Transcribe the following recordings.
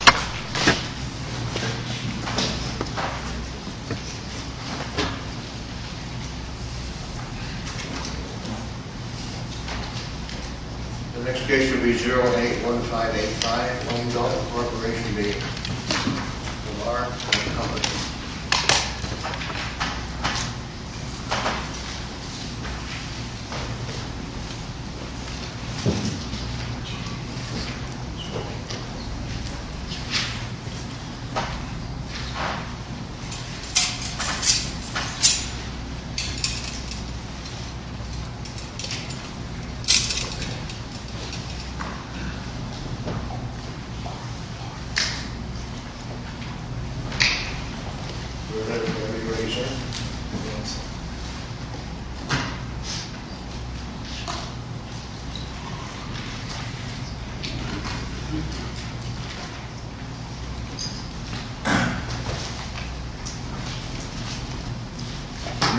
The next case will be 081585, Longdell Corporation Bank.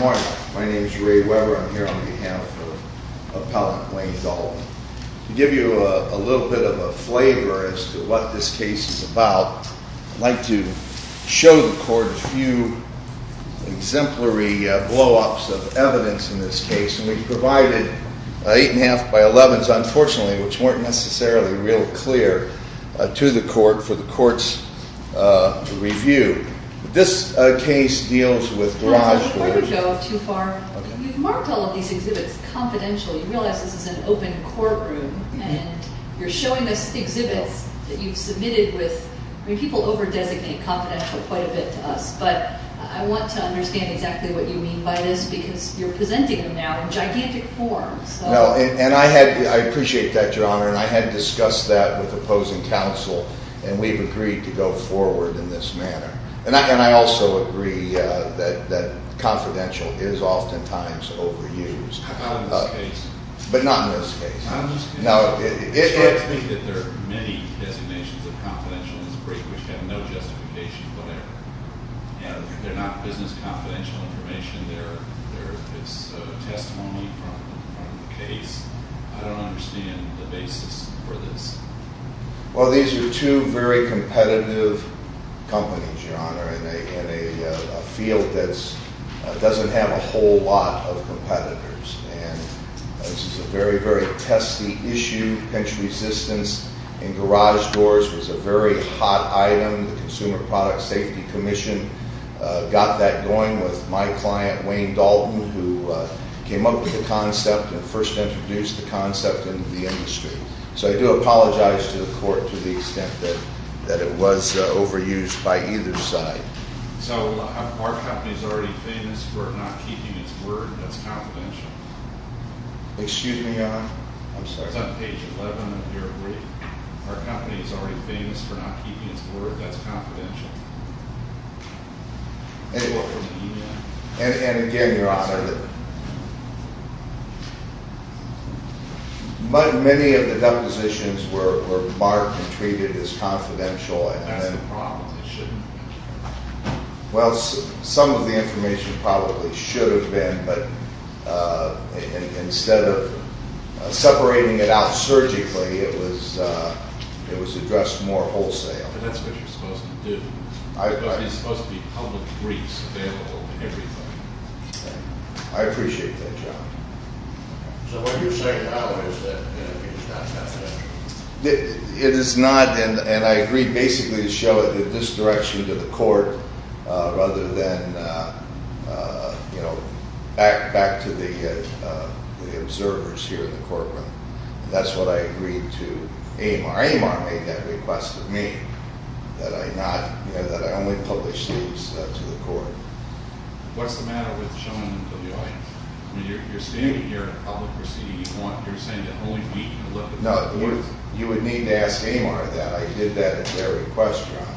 This is a case of Longdell Corporation Bank and Longdell Corporation Bank. Good morning. My name is Ray Weber. I'm here on behalf of Appellant Wayne Dalton. To give you a little bit of a flavor as to what this case is about, I'd like to show the court a few exemplary blowups of evidence in this case. We've provided 8 1⁄2 by 11s, unfortunately, which weren't necessarily real clear to the court for the courts to review. This case deals with garage... Before we go too far, you've marked all of these exhibits confidential. You realize this is an open courtroom and you're showing us exhibits that you've submitted with... I mean, people over-designate confidential quite a bit to us, but I want to understand exactly what you mean by this because you're presenting them now in gigantic forms. And I appreciate that, Your Honor, and I had discussed that with opposing counsel and we've agreed to go forward in this manner. And I also agree that confidential is oftentimes overused. Not in this case. But not in this case. I'm just concerned that there are many designations of confidential in this case which have no justification for their... They're not business confidential information. It's testimony from the case. I don't understand the basis for this. Well, these are two very competitive companies, Your Honor, in a field that addressed the issue. Pinch resistance in garage doors was a very hot item. The Consumer Product Safety Commission got that going with my client, Wayne Dalton, who came up with the concept and first introduced the concept into the industry. So I do apologize to the court to the extent that it was overused by either side. So our company is already famous for not keeping its word that's confidential. Excuse me, Your Honor? I'm sorry. It's on page 11 of your brief. Our company is already famous for not keeping its word that's confidential. And again, Your Honor, many of the Well, some of the information probably should have been, but instead of separating it out surgically, it was addressed more wholesale. And that's what you're supposed to do. It's supposed to be public briefs available to everyone. I appreciate that, Your Honor. So what you're saying now is that it's not confidential? It is not, and I agreed basically to show it in this direction to the court rather than back to the observers here in the courtroom. That's what I agreed to. AMR made that request of me that I only publish these to the court. What's the matter with showing them to the audience? I mean, you're standing here in public proceeding. You're saying that only we can look at these? No, you would need to ask AMR that. I did that at their request, Your Honor.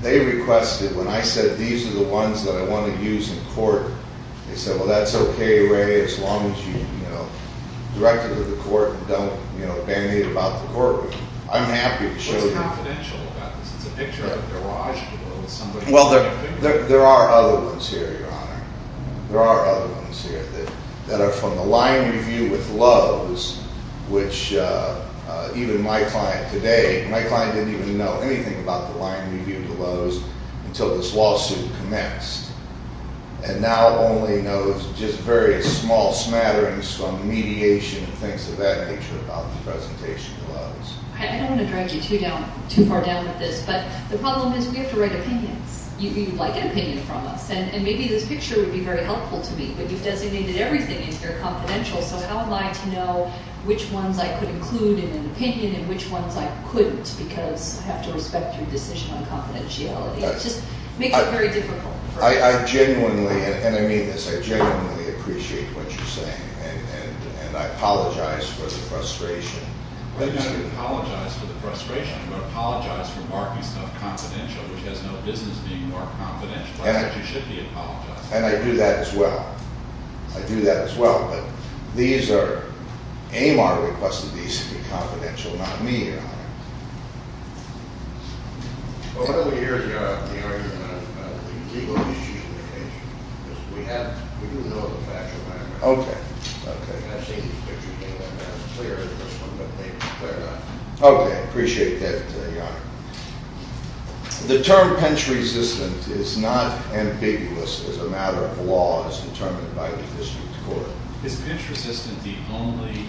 They requested, when I said these are the ones that I want to use in court, they said, well, that's okay, Ray, as long as you direct it to the court and don't bandaid about the courtroom. I'm happy to show you. What's confidential about this? It's a picture of a garage below with somebody painting. Well, there are other ones here, Your Honor. There are other ones here that are from the line review with Lowe's, which even my client today, my client didn't even know anything about the line review with Lowe's until this lawsuit commenced, and now only knows just very small smatterings from mediation and things of that nature about the presentation to Lowe's. I don't want to drag you too far down with this, but the problem is we have to write opinions. You'd like an opinion from us, and maybe this picture would be very helpful to me, but you've designated everything in here confidential, so how am I to know which ones I could include in an opinion and which ones I couldn't because I have to respect your decision on confidentiality? It just makes it very difficult. I genuinely, and I mean this, I genuinely appreciate what you're saying, and I apologize for the frustration. You're not going to apologize for the frustration, you're going to apologize for marking stuff confidential, which has no business being marked confidential. You should be apologizing. And I do that as well. I do that as well, but these are, AMAR requested these to be confidential, not me, Your Honor. Well, why don't we hear, Your Honor, the argument about the legal issues of the case? Because we do know the facts of AMAR. Okay. I've seen these pictures, and they're not as clear as this one, but they're not. Okay, I appreciate that, Your Honor. The term pinch resistant is not ambiguous as a matter of law as determined by the district court. Is pinch resistant the only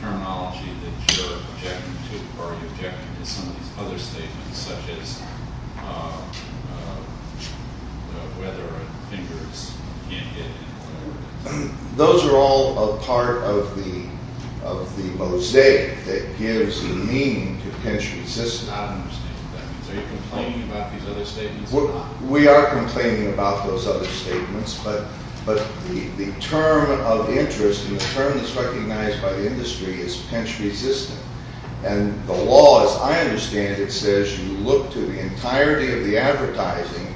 terminology that you're objecting to, or are you objecting to some of these other statements, such as whether fingers can't get in or whatever it is? Those are all a part of the mosaic that gives the meaning to pinch resistant. I don't understand what that means. Are you complaining about these other statements or not? We are complaining about those other statements, but the term of interest, and the term that's recognized by the industry, is pinch resistant. And the law, as I understand it, says you look to the entirety of the advertising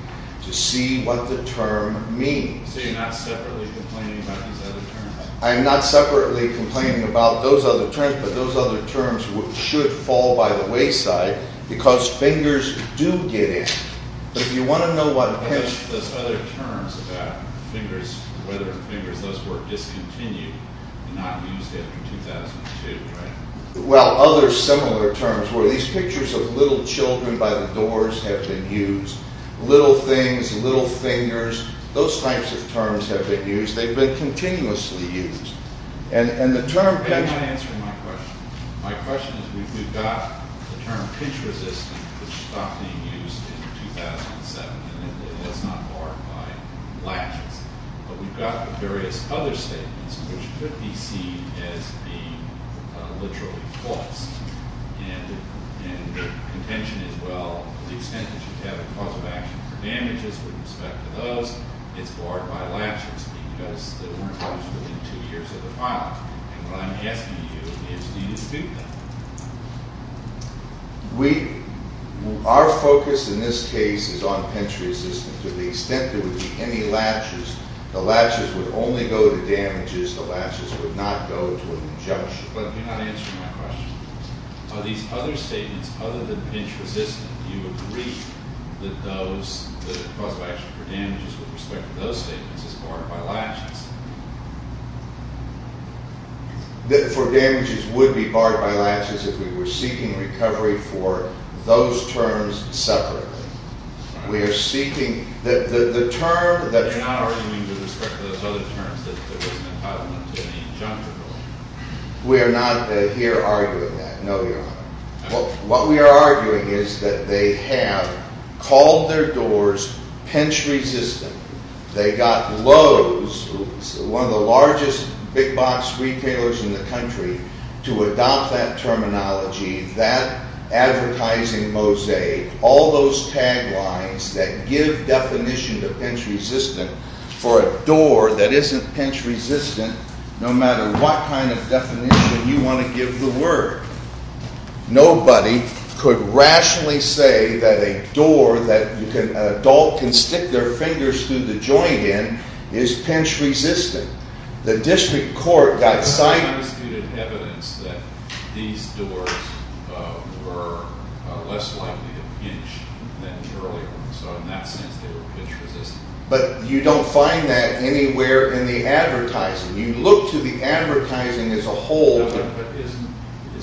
to see what the term means. So you're not separately complaining about these other terms? I'm not separately complaining about those other terms, but those other terms should fall by the wayside, because fingers do get in. Those other terms about whether fingers were discontinued and not used after 2002, right? Well, other similar terms, where these pictures of little children by the doors have been used, little things, little fingers, those types of terms have been used. They've been continuously used. You're not answering my question. My question is we've got the term pinch resistant, which stopped being used in 2007, and that's not barred by latches. But we've got the various other statements, which could be seen as being literally false. And the contention is, well, to the extent that you have a cause of action for damages with respect to those, it's barred by latches because they weren't used within two years of the filing. And what I'm asking you is do you dispute that? Our focus in this case is on pinch resistant. To the extent there would be any latches, the latches would only go to damages. The latches would not go to an injunction. But you're not answering my question. Are these other statements, other than pinch resistant, do you agree that the cause of action for damages with respect to those statements is barred by latches? For damages would be barred by latches if we were seeking recovery for those terms separately. We are seeking the term that You're not arguing with respect to those other terms, that there wasn't an entitlement to any injunction? We are not here arguing that, no, Your Honor. What we are arguing is that they have called their doors pinch resistant. They got Lowe's, one of the largest big box retailers in the country, to adopt that terminology, that advertising mosaic, all those tag lines that give definition to pinch resistant for a door that isn't pinch resistant, no matter what kind of definition you want to give the word. Nobody could rationally say that a door that an adult can stick their fingers through the joint in is pinch resistant. The district court got cited There's some undisputed evidence that these doors were less likely to pinch than earlier. So in that sense, they were pinch resistant. But you don't find that anywhere in the advertising. You look to the advertising as a whole. Is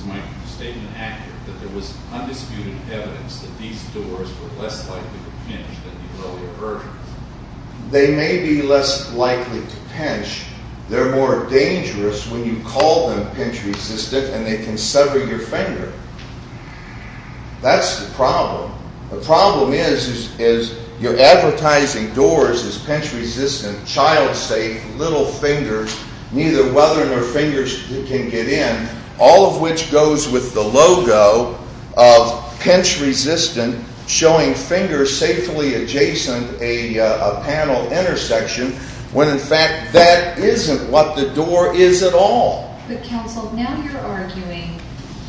my statement accurate that there was undisputed evidence that these doors were less likely to pinch than the earlier versions? They may be less likely to pinch. They're more dangerous when you call them pinch resistant and they can sever your finger. That's the problem. The problem is you're advertising doors as pinch resistant, child safe, little fingers, neither weathering or fingers can get in, all of which goes with the logo of pinch resistant, showing fingers safely adjacent a panel intersection, when in fact that isn't what the door is at all. But counsel, now you're arguing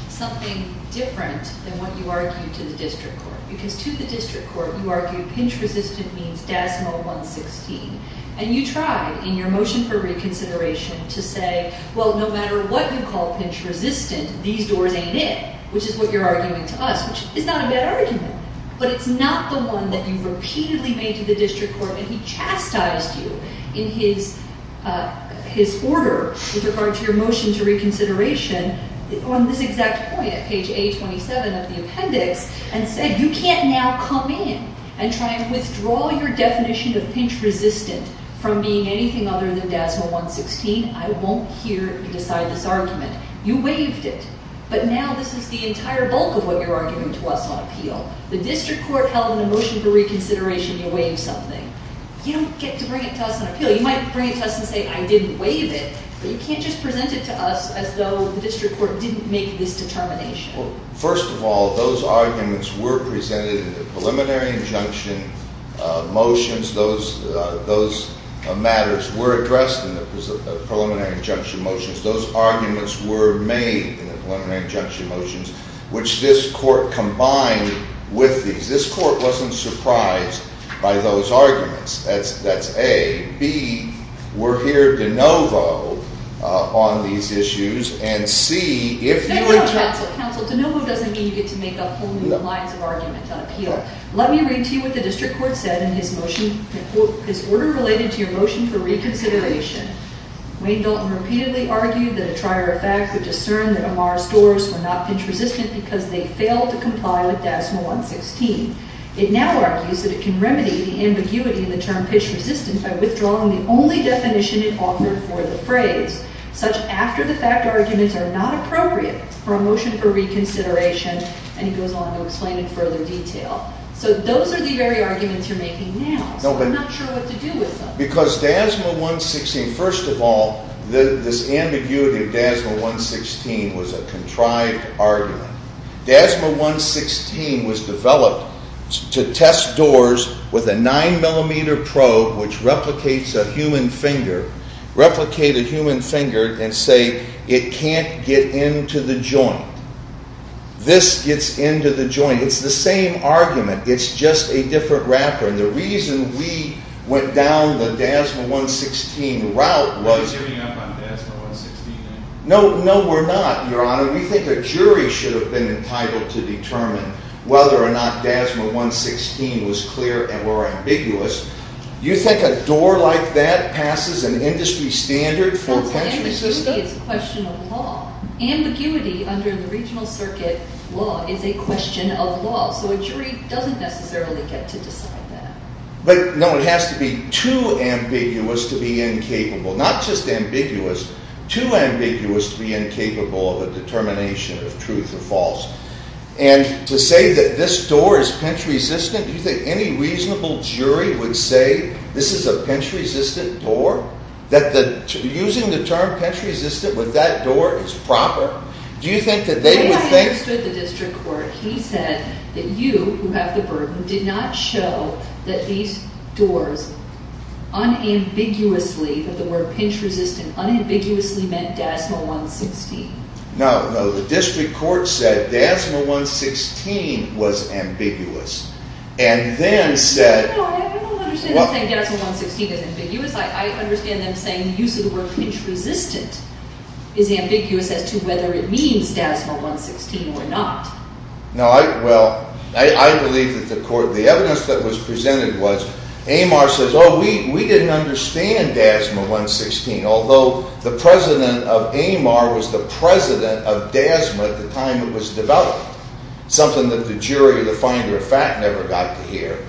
something different than what you argue to the district court. Because to the district court, you argue pinch resistant means DASMO 116. And you try in your motion for reconsideration to say, well, no matter what you call pinch resistant, these doors ain't it, which is what you're arguing to us, which is not a bad argument. But it's not the one that you repeatedly made to the district court and he chastised you in his order with regard to your motion to reconsideration on this exact point at page A27 of the appendix and said, you can't now come in and try and withdraw your definition of pinch resistant from being anything other than DASMO 116. I won't hear you decide this argument. You waived it. But now this is the entire bulk of what you're arguing to us on appeal. The district court held in the motion for reconsideration you waived something. You don't get to bring it to us on appeal. You might bring it to us and say I didn't waive it. But you can't just present it to us as though the district court didn't make this determination. First of all, those arguments were presented in the preliminary injunction motions. Those matters were addressed in the preliminary injunction motions. Those arguments were made in the preliminary injunction motions, which this court combined with these. This court wasn't surprised by those arguments. That's A. B, we're here de novo on these issues. And C, if you were to- No, no, no, counsel, counsel. De novo doesn't mean you get to make up whole new lines of argument on appeal. Let me read to you what the district court said in his motion, his order related to your motion for reconsideration. Wayne Dalton repeatedly argued that a trier of fact would discern that Amar's doors were not pitch resistant because they failed to comply with DASMA 116. It now argues that it can remedy the ambiguity in the term pitch resistant by withdrawing the only definition it offered for the phrase, such after the fact arguments are not appropriate for a motion for reconsideration. And he goes on to explain in further detail. So those are the very arguments you're making now. So I'm not sure what to do with them. Because DASMA 116- First of all, this ambiguity of DASMA 116 was a contrived argument. DASMA 116 was developed to test doors with a 9mm probe which replicates a human finger, replicate a human finger and say it can't get into the joint. This gets into the joint. It's the same argument. It's just a different wrapper. And the reason we went down the DASMA 116 route was- Are you giving up on DASMA 116? No, we're not, Your Honor. We think a jury should have been entitled to determine whether or not DASMA 116 was clear or ambiguous. You think a door like that passes an industry standard for- That's ambiguity. It's a question of law. Ambiguity under the regional circuit law is a question of law. So a jury doesn't necessarily get to decide that. But no, it has to be too ambiguous to be incapable. Not just ambiguous. Too ambiguous to be incapable of a determination of truth or false. And to say that this door is pinch-resistant, do you think any reasonable jury would say this is a pinch-resistant door? That using the term pinch-resistant with that door is proper? Do you think that they would think- He said that you, who have the burden, did not show that these doors unambiguously- that the word pinch-resistant unambiguously meant DASMA 116. No, no. The district court said DASMA 116 was ambiguous. And then said- No, I don't understand them saying DASMA 116 is ambiguous. I understand them saying the use of the word pinch-resistant is ambiguous as to whether it means DASMA 116 or not. No, well, I believe that the evidence that was presented was Amar says, oh, we didn't understand DASMA 116. Although the president of Amar was the president of DASMA at the time it was developed. Something that the jury, the finder of fact, never got to hear.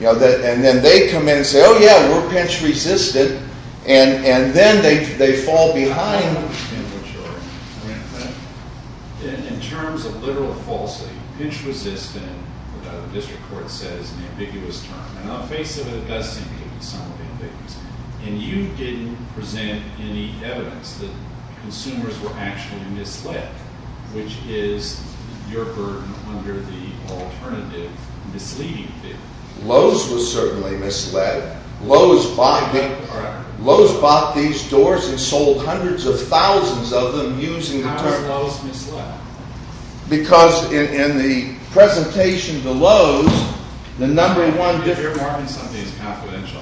And then they come in and say, oh yeah, we're pinch-resistant. And then they fall behind. I don't understand what you're saying. In terms of literal falsely, pinch-resistant, what the district court says, is an ambiguous term. And on the face of it, it does seem to be somewhat ambiguous. And you didn't present any evidence that consumers were actually misled, which is your burden under the alternative misleading theory. Lowe's was certainly misled. Lowe's bought these doors and sold hundreds of thousands of them using the term. How was Lowe's misled? Because in the presentation to Lowe's, the number one... You're marking something as confidential.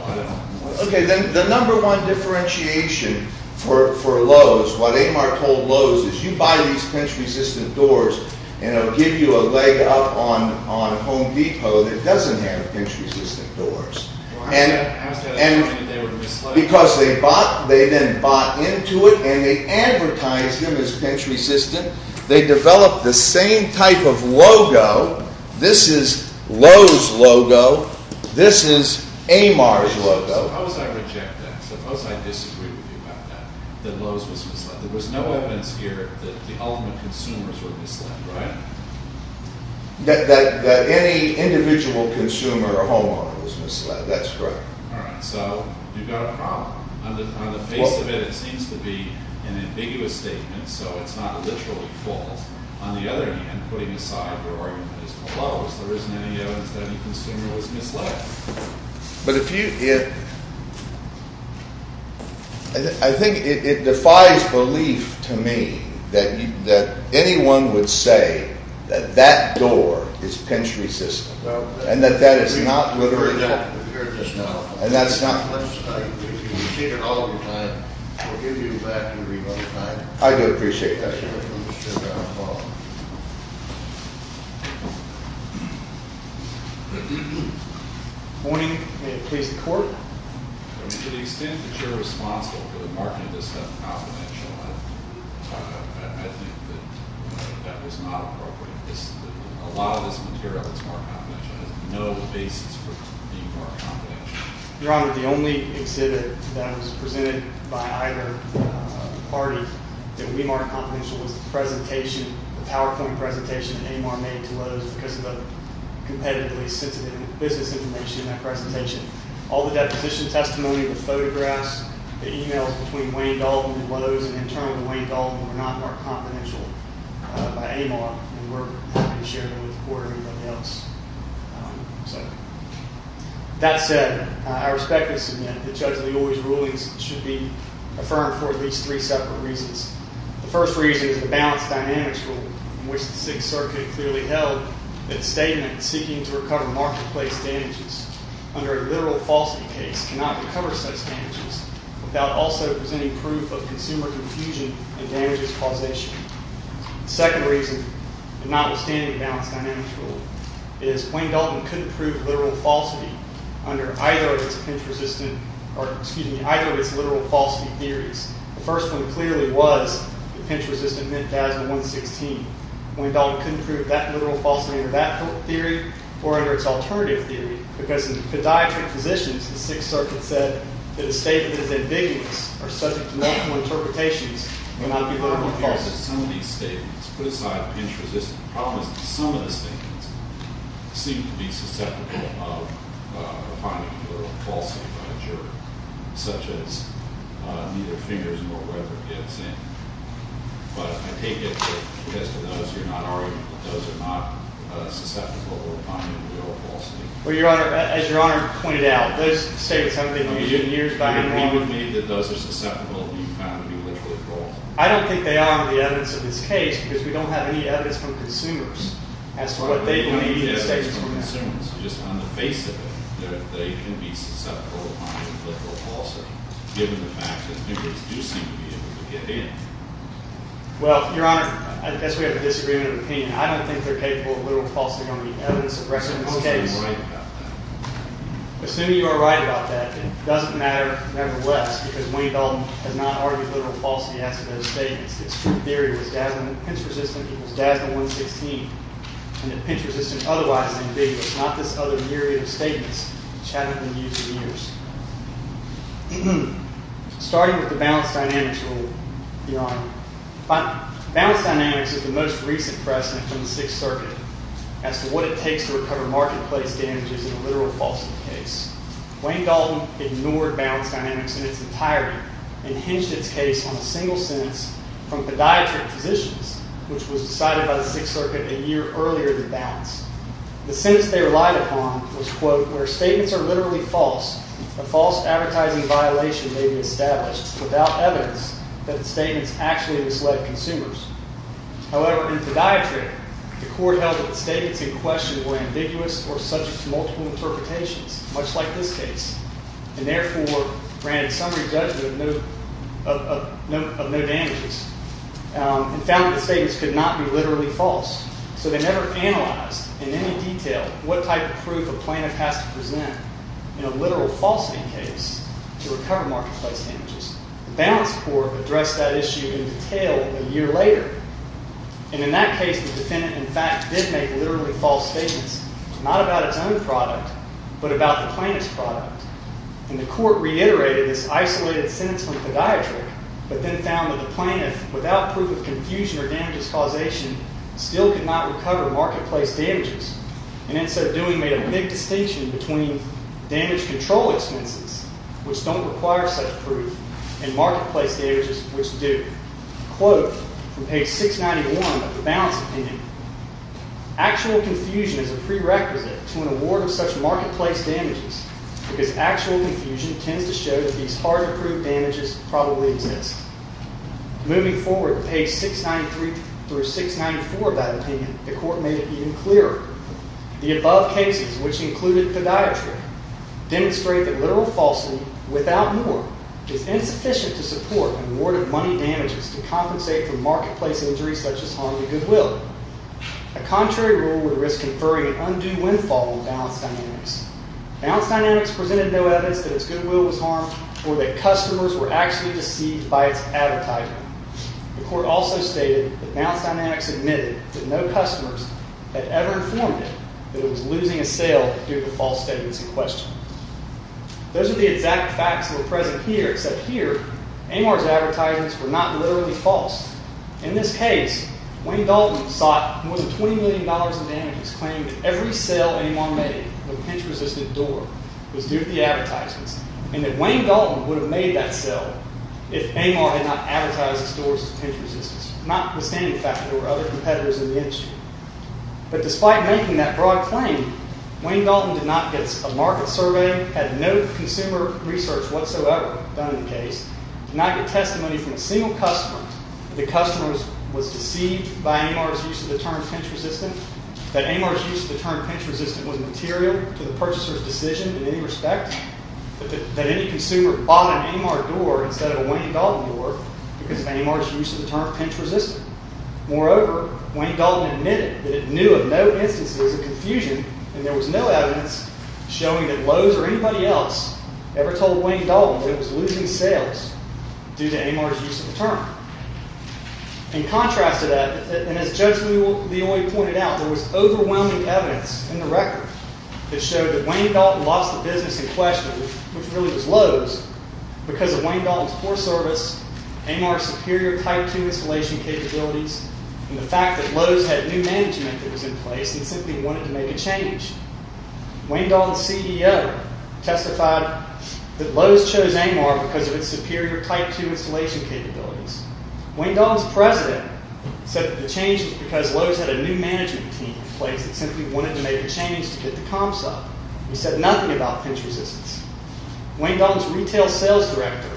Okay, then the number one differentiation for Lowe's, what Amar told Lowe's is you buy these pinch-resistant doors and it'll give you a leg out on Home Depot that doesn't have pinch-resistant doors. How is that a sign that they were misled? Because they then bought into it and they advertised them as pinch-resistant. They developed the same type of logo. This is Lowe's logo. This is Amar's logo. Suppose I reject that. Suppose I disagree with you about that, that Lowe's was misled. There was no evidence here that the ultimate consumers were misled, right? That any individual consumer or homeowner was misled. That's correct. All right, so you've got a problem. On the face of it, it seems to be an ambiguous statement, so it's not literally false. On the other hand, putting aside your argument that it's called Lowe's, there isn't any evidence that any consumer was misled. But if you... I think it defies belief to me that anyone would say that that door is pinch-resistant. And that that is not literally... We've heard that. We've heard this now. And that's not... If you repeat it all the time, we'll give you back your remote time. I do appreciate that. That's right. Good morning. May it please the Court. To the extent that you're responsible for the marketing of this stuff at Confidential, I think that that was not appropriate. A lot of this material that's marked Confidential has no basis for being marked Confidential. Your Honor, the only exhibit that was presented by either party that we marked Confidential was the presentation, the PowerPoint presentation that Amar made to Lowe's because of the competitively sensitive business information in that presentation. All the deposition testimony, the photographs, the e-mails between Wayne Dalton and Lowe's and internal to Wayne Dalton were not marked Confidential by Amar. And we're happy to share them with the Court or anybody else. That said, I respectfully submit that Judge Leoy's rulings should be affirmed for at least three separate reasons. The first reason is the balanced dynamics rule in which the Sixth Circuit clearly held that statements seeking to recover marketplace damages under a literal falsity case cannot recover such damages without also presenting proof of consumer confusion and damages causation. The second reason, notwithstanding the balanced dynamics rule, is Wayne Dalton couldn't prove literal falsity under either of its pinch-resistant, or excuse me, either of its literal falsity theories. The first one clearly was that pinch-resistant meant damage in 116. Wayne Dalton couldn't prove that literal falsity under that theory or under its alternative theory because in podiatric physicians, the Sixth Circuit said that a statement as ambiguous or subject to multiple interpretations cannot be literally false. Some of these statements, put aside pinch-resistant problems, some of the statements seem to be susceptible of finding literal falsity by a juror, such as neither fingers nor rubber fits in. But I take it that as to those, you're not arguing that those are not susceptible of finding literal falsity. Well, Your Honor, as Your Honor pointed out, those statements haven't been used in years. Do you agree with me that those are susceptible of being found to be literally false? I don't think they are on the evidence of this case because we don't have any evidence from consumers as to what they believe these statements are. Well, Your Honor, I guess we have a disagreement of opinion. I don't think they're capable of literal falsity on the evidence of the rest of this case. I'm assuming you're right about that. Assuming you are right about that, it doesn't matter, nevertheless, because Wayne Dalton has not argued literal falsity as to those statements. His theory was that pinch-resistant equals DASDA 116, and that pinch-resistant is otherwise ambiguous, not this other myriad of statements which haven't been used in years. Starting with the balance dynamics rule, Your Honor, balance dynamics is the most recent precedent from the Sixth Circuit as to what it takes to recover marketplace damages in a literal falsity case. Wayne Dalton ignored balance dynamics in its entirety and hinged its case on a single sentence from podiatric physicians, which was decided by the Sixth Circuit a year earlier than balance. The sentence they relied upon was, quote, where statements are literally false, a false advertising violation may be established without evidence that the statements actually misled consumers. However, in podiatry, the court held that the statements in question were ambiguous or subject to multiple interpretations, much like this case, and therefore granted summary judgment of no damages and found that the statements could not be literally false. So they never analyzed in any detail what type of proof a plaintiff has to present in a literal falsity case to recover marketplace damages. The balance court addressed that issue in detail a year later, and in that case the defendant, in fact, did make literally false statements, not about its own product, but about the plaintiff's product. And the court reiterated this isolated sentence from podiatry, but then found that the plaintiff, without proof of confusion or damages causation, still could not recover marketplace damages. And in so doing, made a big distinction between damage control expenses, which don't require such proof, and marketplace damages, which do. Quote from page 691 of the balance opinion, Actual confusion is a prerequisite to an award of such marketplace damages, because actual confusion tends to show that these hard-to-prove damages probably exist. Moving forward to page 693 through 694 of that opinion, the court made it even clearer. The above cases, which included podiatry, demonstrate that literal falsity, without norm, is insufficient to support an award of money damages to compensate for marketplace injuries such as harm to goodwill. A contrary rule would risk conferring an undue windfall on balance dynamics. Balance dynamics presented no evidence that its goodwill was harmed, or that customers were actually deceived by its advertising. The court also stated that balance dynamics admitted that no customers had ever informed it that it was losing a sale due to false statements in question. Those are the exact facts that were present here, except here, Amor's advertisements were not literally false. In this case, Wayne Dalton sought more than $20 million in damages claiming that every sale Amor made of a pinch-resistant door was due to the advertisements, and that Wayne Dalton would have made that sale if Amor had not advertised its doors as pinch-resistant, notwithstanding the fact that there were other competitors in the industry. But despite making that broad claim, Wayne Dalton did not get a market survey, had no consumer research whatsoever done in the case, did not get testimony from a single customer that the customer was deceived by Amor's use of the term pinch-resistant, that Amor's use of the term pinch-resistant was material to the purchaser's decision in any respect, that any consumer bought an Amor door instead of a Wayne Dalton door because of Amor's use of the term pinch-resistant. Moreover, Wayne Dalton admitted that it knew of no instances of confusion, and there was no evidence showing that Lowe's or anybody else ever told Wayne Dalton that it was losing sales due to Amor's use of the term. In contrast to that, and as Judge Leoy pointed out, there was overwhelming evidence in the record that showed that Wayne Dalton lost the business in question, which really was Lowe's, because of Wayne Dalton's poor service, Amor's superior Type II installation capabilities, and the fact that Lowe's had new management that was in place and simply wanted to make a change. Wayne Dalton's CEO testified that Lowe's chose Amor because of its superior Type II installation capabilities. Wayne Dalton's president said that the change was because Lowe's had a new management team in place that simply wanted to make a change to get the comps up. He said nothing about pinch-resistance. Wayne Dalton's retail sales director,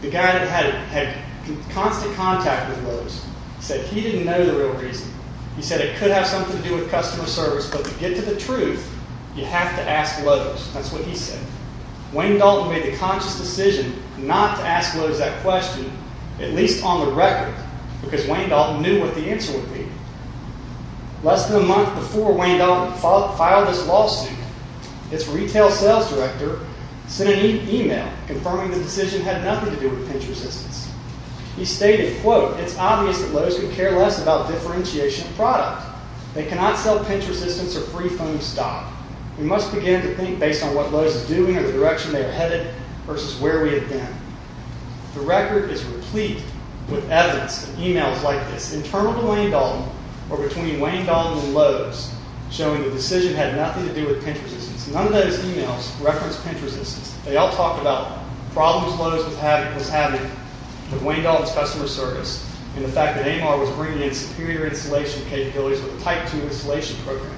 the guy that had constant contact with Lowe's, said he didn't know the real reason. He said it could have something to do with customer service, but to get to the truth, you have to ask Lowe's. That's what he said. Wayne Dalton made the conscious decision not to ask Lowe's that question, at least on the record, because Wayne Dalton knew what the answer would be. Less than a month before Wayne Dalton filed this lawsuit, its retail sales director sent an email confirming the decision had nothing to do with pinch-resistance. He stated, quote, It's obvious that Lowe's could care less about differentiation of product. They cannot sell pinch-resistance or free phone stock. We must begin to think based on what Lowe's is doing or the direction they are headed versus where we have been. The record is replete with evidence and emails like this, internal to Wayne Dalton or between Wayne Dalton and Lowe's, showing the decision had nothing to do with pinch-resistance. None of those emails referenced pinch-resistance. They all talked about problems Lowe's was having with Wayne Dalton's customer service and the fact that Amar was bringing in superior installation capabilities with a Type II installation program.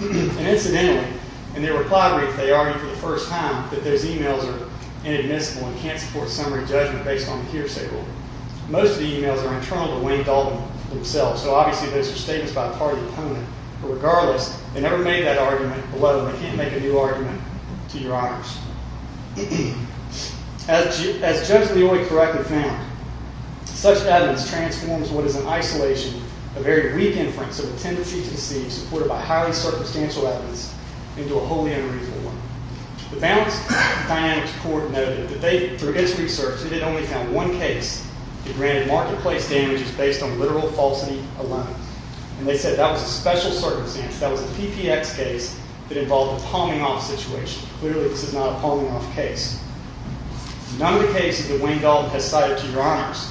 And incidentally, in their reply brief, they argued for the first time that those emails are inadmissible and can't support summary judgment based on the hearsay rule. Most of the emails are internal to Wayne Dalton himself, so obviously those are statements by part of the opponent. But regardless, they never made that argument, although they can't make a new argument to your honors. As judge of the only corrective found, such evidence transforms what is in isolation a very weak inference of a tendency to deceive supported by highly circumstantial evidence into a wholly unreasonable one. The Balanced Dynamics Court noted that they, through its research, had only found one case that granted marketplace damages based on literal falsity alone. And they said that was a special circumstance, that was a PPX case that involved a palming-off situation. Clearly, this is not a palming-off case. None of the cases that Wayne Dalton has cited to your honors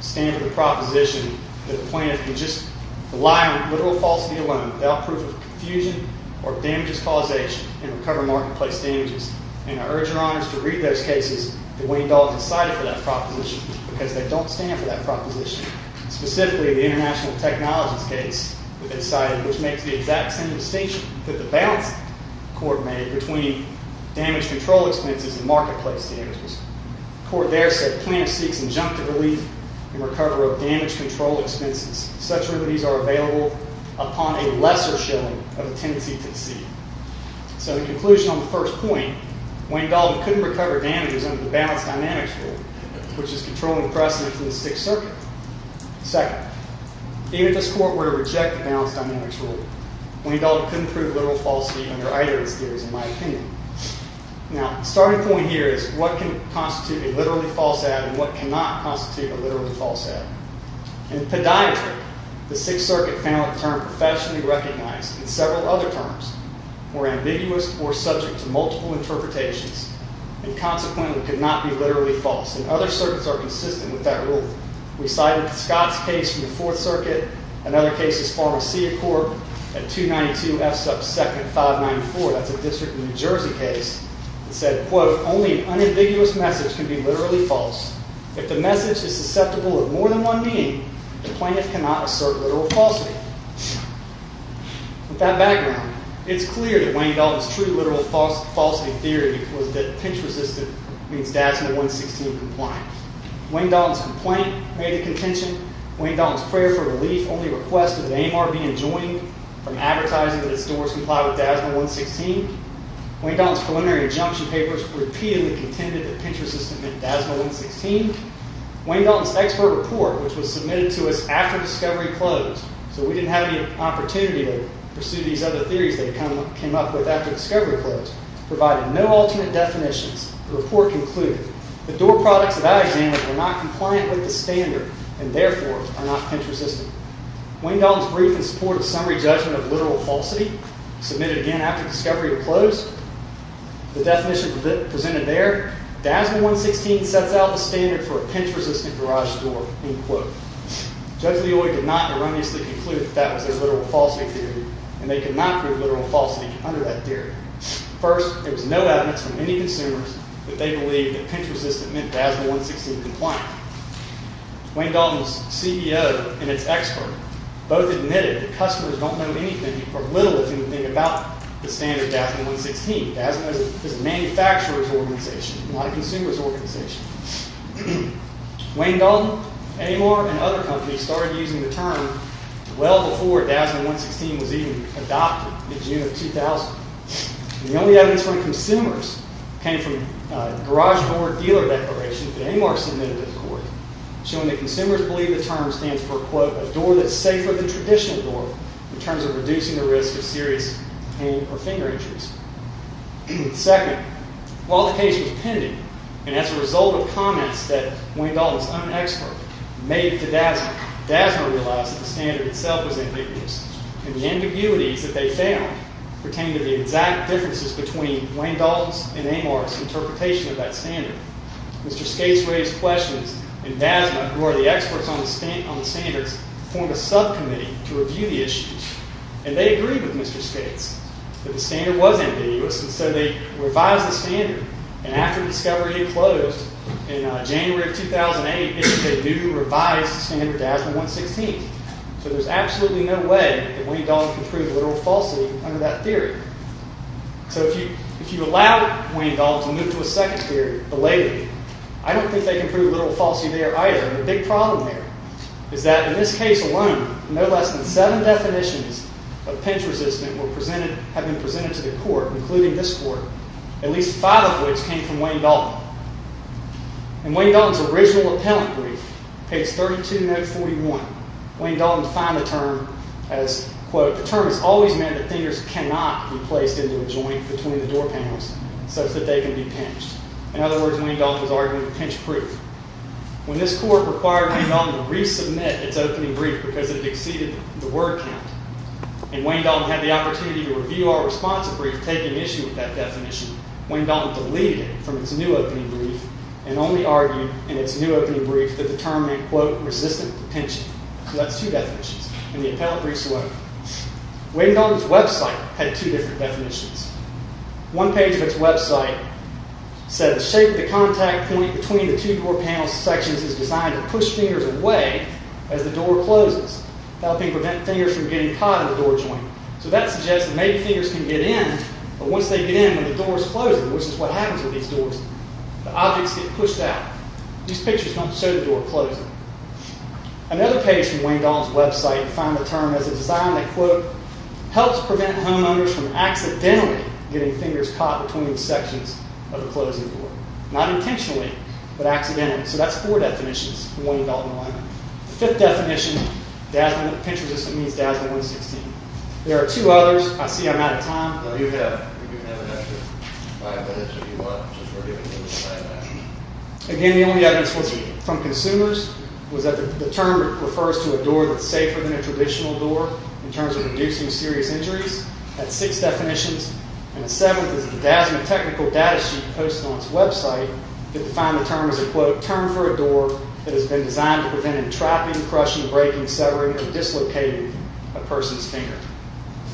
stand for the proposition that the plaintiff can just rely on literal falsity alone without proof of confusion or damages causation and recover marketplace damages. And I urge your honors to read those cases that Wayne Dalton cited for that proposition because they don't stand for that proposition. Specifically, the international technologies case that they cited, which makes the exact same distinction that the Balanced Court made between damage control expenses and marketplace damages. The court there said, plaintiff seeks injunctive relief in recovery of damage control expenses. Such remedies are available upon a lesser showing of a tendency to deceive. So, in conclusion on the first point, Wayne Dalton couldn't recover damages under the Balanced Dynamics Rule, which is controlling the precedent for the Sixth Circuit. Second, even if this court were to reject the Balanced Dynamics Rule, Wayne Dalton couldn't prove literal falsity under either of his theories, in my opinion. Now, the starting point here is what can constitute a literally false ad and what cannot constitute a literally false ad. In podiatry, the Sixth Circuit found a term professionally recognized in several other terms were ambiguous or subject to multiple interpretations and consequently could not be literally false. And other circuits are consistent with that rule. We cited Scott's case from the Fourth Circuit, another case as far as Seah Corp at 292 F sub 2nd 594. That's a district in New Jersey case. It said, quote, only an unambiguous message can be literally false. If the message is susceptible of more than one being, the plaintiff cannot assert literal falsity. With that background, it's clear that Wayne Dalton's true literal falsity theory was that pinch-resistant means DASMA 116 compliant. Wayne Dalton's complaint made the contention. Wayne Dalton's prayer for relief only requested that AMR be enjoined from advertising that its doors comply with DASMA 116. Wayne Dalton's preliminary injunction papers repeatedly contended that pinch-resistant meant DASMA 116. Wayne Dalton's expert report, which was submitted to us after discovery closed, so we didn't have any opportunity to pursue these other theories they came up with after discovery closed, provided no alternate definitions. The report concluded, the door products of that exam were not compliant with the standard and therefore are not pinch-resistant. Wayne Dalton's brief in support of summary judgment of literal falsity, submitted again after discovery closed, the definition presented there, DASMA 116 sets out the standard for a pinch-resistant garage door, end quote. Judge Leoy did not erroneously conclude that that was their literal falsity theory, and they could not prove literal falsity under that theory. First, there was no evidence from any consumers that they believed that pinch-resistant meant DASMA 116 compliant. Wayne Dalton's CEO and its expert both admitted that customers don't know anything or little if anything about the standard DASMA 116. DASMA is a manufacturer's organization, not a consumer's organization. Wayne Dalton, Amar, and other companies started using the term well before DASMA 116 was even adopted in June of 2000. The only evidence from consumers came from garage door dealer declarations that Amar submitted to the court, showing that consumers believe the term stands for, quote, a door that's safer than traditional door in terms of reducing the risk of serious pain or finger injuries. Second, while the case was pending, and as a result of comments that Wayne Dalton's own expert made to DASMA, DASMA realized that the standard itself was ambiguous, and the ambiguities that they found pertained to the exact differences between Wayne Dalton's and Amar's interpretation of that standard. Mr. Skates raised questions, and DASMA, who are the experts on the standards, formed a subcommittee to review the issues. And they agreed with Mr. Skates that the standard was ambiguous, and so they revised the standard. And after discovery had closed in January of 2008, they issued a new revised standard, DASMA 116. So there's absolutely no way that Wayne Dalton can prove literal falsity under that theory. So if you allow Wayne Dalton to move to a second theory, belatedly, I don't think they can prove literal falsity there either. And the big problem there is that in this case alone, no less than seven definitions of pinch resistance have been presented to the court, including this court, at least five of which came from Wayne Dalton. In Wayne Dalton's original appellant brief, page 32, note 41, Wayne Dalton defined the term as, quote, the term has always meant that fingers cannot be placed into a joint between the door panels such that they can be pinched. In other words, Wayne Dalton was arguing pinch proof. When this court required Wayne Dalton to resubmit its opening brief because it had exceeded the word count, and Wayne Dalton had the opportunity to review our response brief taking issue with that definition, Wayne Dalton deleted it from its new opening brief and only argued in its new opening brief that the term meant, quote, resistant to pinching. So that's two definitions. In the appellant briefs alone. Wayne Dalton's website had two different definitions. One page of its website said the shape of the contact point between the two door panel sections is designed to push fingers away as the door closes, helping prevent fingers from getting caught in the door joint. So that suggests that maybe fingers can get in, but once they get in, when the door is closing, which is what happens with these doors, the objects get pushed out. These pictures don't show the door closing. Another page from Wayne Dalton's website defined the term as a design that, quote, helps prevent homeowners from accidentally getting fingers caught between the sections of the closing door. Not intentionally, but accidentally. So that's four definitions from Wayne Dalton alone. The fifth definition, pinch resistant means DASNY 116. There are two others. I see I'm out of time. No, you have an extra five minutes if you want. Again, the only evidence from consumers was that the term refers to a door that's safer than a traditional door in terms of reducing serious injuries. That's six definitions. And the seventh is a DASNY technical data sheet posted on its website that defined the term as a, quote, term for a door that has been designed to prevent entrapping, crushing, breaking, severing, or dislocating a person's finger.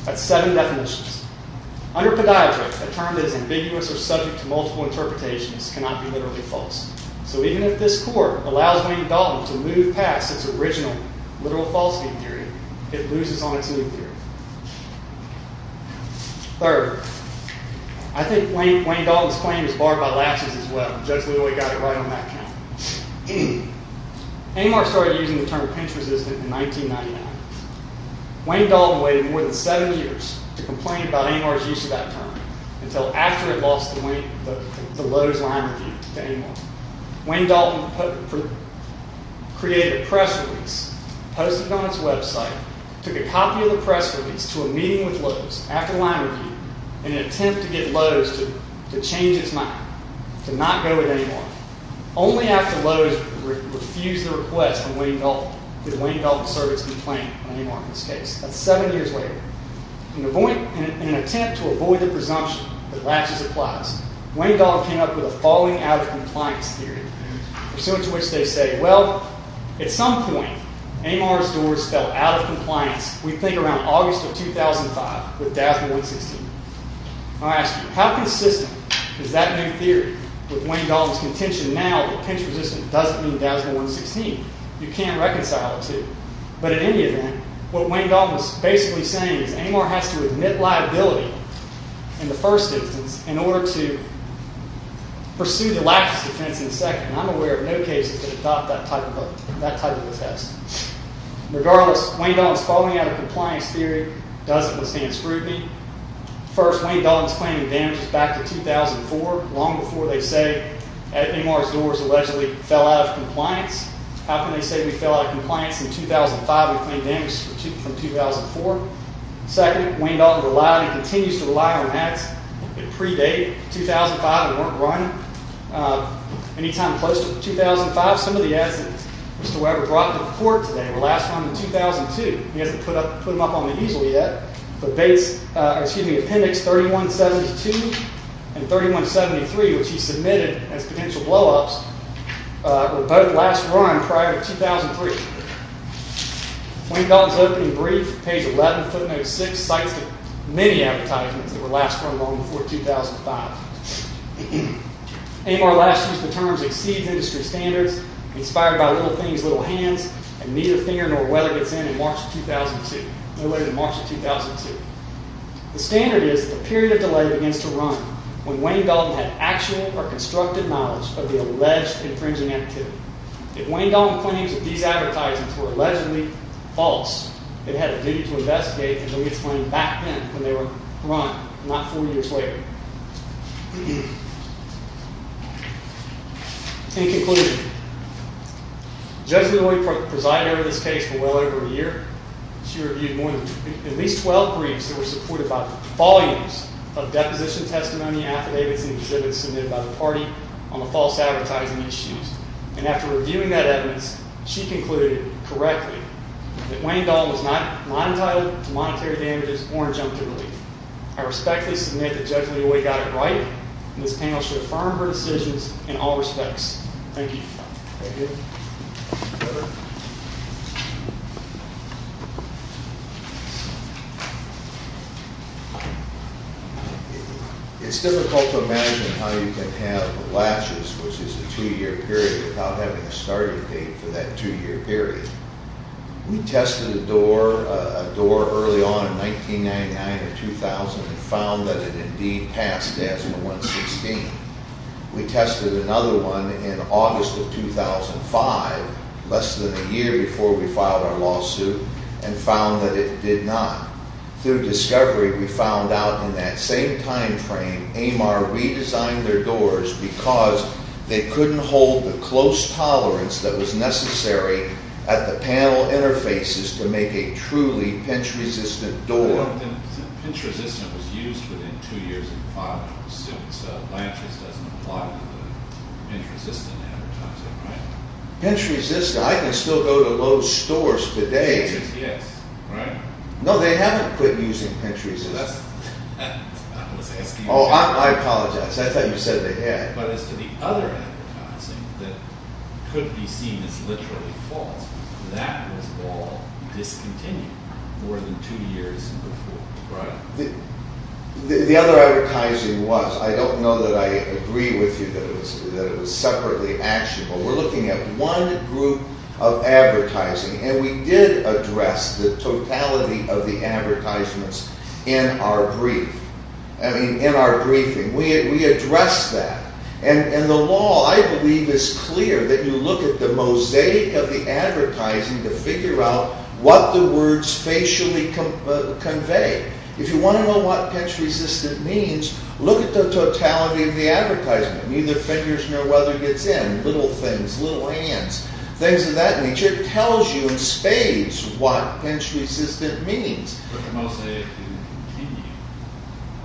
That's seven definitions. Under podiatry, a term that is ambiguous or subject to multiple interpretations cannot be literally false. So even if this court allows Wayne Dalton to move past its original literal falsity theory, it loses on its new theory. Third, I think Wayne Dalton's claim is barred by lapses as well. The judge literally got it right on that count. Amar started using the term pinch resistant in 1999. Wayne Dalton waited more than seven years to complain about Amar's use of that term until after it lost the Lowe's line review to Amar. Wayne Dalton created a press release posted it on its website, took a copy of the press release to a meeting with Lowe's after line review in an attempt to get Lowe's to change its mind, to not go with Amar. Only after Lowe's refused the request did Wayne Dalton serve its complaint on Amar in this case. That's seven years later. In an attempt to avoid the presumption that lapses applies, Wayne Dalton came up with a falling out of compliance theory pursuant to which they say, well, at some point, Amar's doors fell out of compliance we think around August of 2005 with DASMA 116. I ask you, how consistent is that new theory with Wayne Dalton's contention now that pinch resistant doesn't mean DASMA 116? You can't reconcile the two. But in any event, what Wayne Dalton is basically saying is Amar has to admit liability in the first instance in order to pursue the lapses defense in the second. I'm aware of no cases that adopt that type of a test. Regardless, Wayne Dalton's falling out of compliance theory doesn't withstand scrutiny. First, Wayne Dalton is claiming damages back to 2004 long before they say Amar's doors allegedly fell out of compliance. How can they say we fell out of compliance in 2005 and claim damage from 2004? Second, Wayne Dalton continues to rely on ads that predate 2005 and weren't running any time close to 2005. Some of the ads that Mr. Weber brought to court today were last run in 2002. He hasn't put them up on the easel yet, but appendix 3172 and 3173, which he submitted as potential blow-ups, were both last run prior to 2003. Wayne Dalton's opening brief, page 11, footnote 6, cites many advertisements that were last run long before 2005. Amar last used the terms exceeds industry standards inspired by little things, little hands, and neither finger nor weather gets in in March of 2002. No later than March of 2002. The standard is that the period of delay begins to run when Wayne Dalton had actual or constructed knowledge of the alleged infringing activity. If Wayne Dalton claims that these advertisements were allegedly false, it had a duty to investigate until he explained back then when they were run, not four years later. In conclusion, Judge Midway presided over this case for well over a year. She reviewed more than at least 12 briefs that were supported by volumes of deposition testimony, affidavits, and exhibits submitted by the party on the false advertising issues. And after reviewing that evidence, she concluded correctly that Wayne Dalton was not not entitled to monetary damages or injunctive leave. I respectfully submit that Judge Midway got it right and this panel should affirm her decisions in all respects. Thank you. It's difficult to imagine how you can have the latches, which is a two year period, without having a starting date for that two year period. We tested a door, a door early on in 1999 and 2000 and found that it indeed passed ASMA 116. We tested another one in August of 2005, less than a year before we filed our lawsuit and found that it did not. Through discovery, we found out in that same time frame AMAR redesigned their doors because they couldn't hold the close tolerance that was necessary at the panel interfaces to make a truly pinch-resistant door. Pinch-resistant was used within two years of filing the suit, so latches doesn't apply to the pinch-resistant advertising, right? Pinch-resistant? I can still go to Lowe's stores today. Yes, right? No, they haven't quit using pinch-resistant. I was asking... Oh, I apologize. I thought you said they had. But as to the other advertising that could be seen as all discontinued more than two years before, right? The other advertising was. I don't know that I agree with you that it was separately actionable. We're looking at one group of advertising and we did address the totality of the advertisements in our brief. I mean, in our briefing. We addressed that. And the law, I believe, is clear that you look at the mosaic of the advertising to figure out what the words facially convey. If you want to know what pinch-resistant means, look at the totality of the advertisement. Neither fingers nor weather gets in. Little things. Little hands. Things of that nature tells you in spades what pinch-resistant means. But the mosaic didn't continue.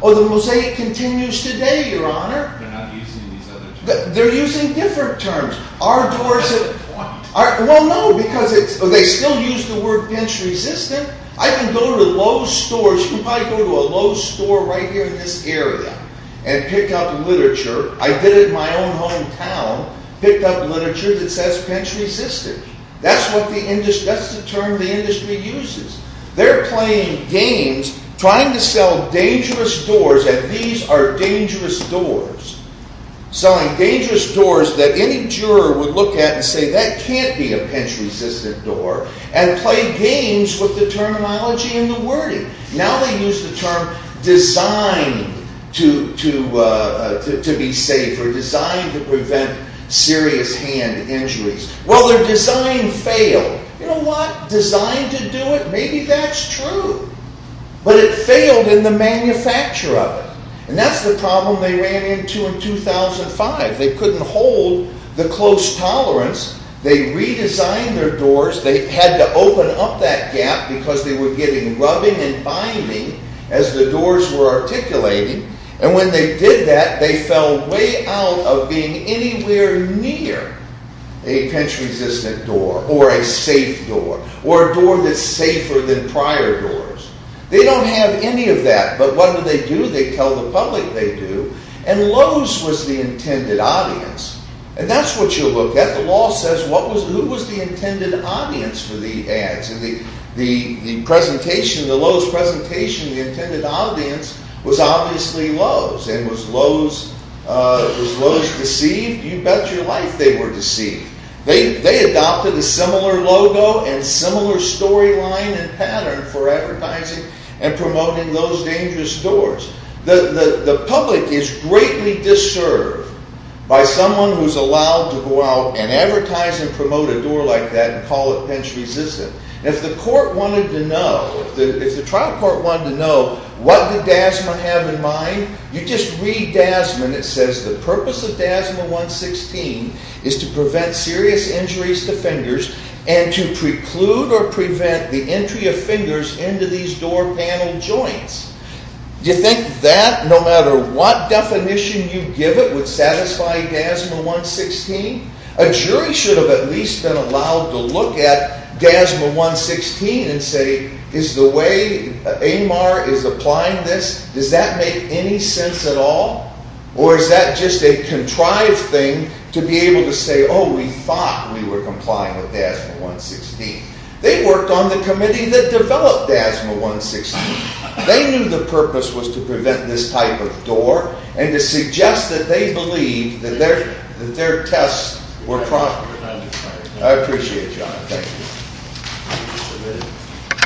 Oh, the mosaic continues today, Your Honor. They're not using these other terms. They're using different terms. Well, no, because they still use the word pinch-resistant. I can go to Lowe's stores. You can probably go to a Lowe's store right here in this area and pick up literature. I did it in my own hometown. Picked up literature that says pinch-resistant. That's the term the industry uses. They're playing games trying to sell dangerous doors, and these are dangerous doors. Selling dangerous doors that any juror would look at and say that can't be a pinch-resistant door, and play games with the terminology and the wording. Now they use the term designed to be safe, or designed to prevent serious hand injuries. Well, their design failed. You know what? Designed to do it? Maybe that's true. But it failed in the manufacture of it. And that's the problem they ran into in 2005. They couldn't hold the close tolerance. They redesigned their doors. They had to open up that gap because they were getting rubbing and binding as the doors were articulating, and when they did that, they fell way out of being anywhere near a pinch-resistant door, or a safe door, or a door that's safer than prior doors. They don't have any of that, but what do they do? They tell the public they do. And Lowe's was the intended audience. And that's what you'll look at. The law says who was the intended audience for the ads? The presentation, the Lowe's presentation, the intended audience was obviously Lowe's. And was Lowe's deceived? You bet your life they were deceived. They adopted a similar logo and similar storyline and pattern for those dangerous doors. The public is greatly disserved by someone who's allowed to go out and advertise and promote a door like that and call it pinch-resistant. If the court wanted to know, if the trial court wanted to know what did Dasman have in mind, you just read Dasman. It says the purpose of to prevent serious injuries to fingers and to preclude or prevent the entry of fingers into these door panel joints. Do you think that no matter what definition you give it would satisfy Dasman 116? A jury should have at least been allowed to look at Dasman 116 and say, is the way Amar is applying this, does that make any sense at all? Or is that just a contrived thing to be able to say oh, we thought we were complying with Dasman 116. They worked on the committee that developed Dasman 116. They knew the purpose was to prevent this type of door and to suggest that they believed that their tests were proven. I appreciate you. Thank you.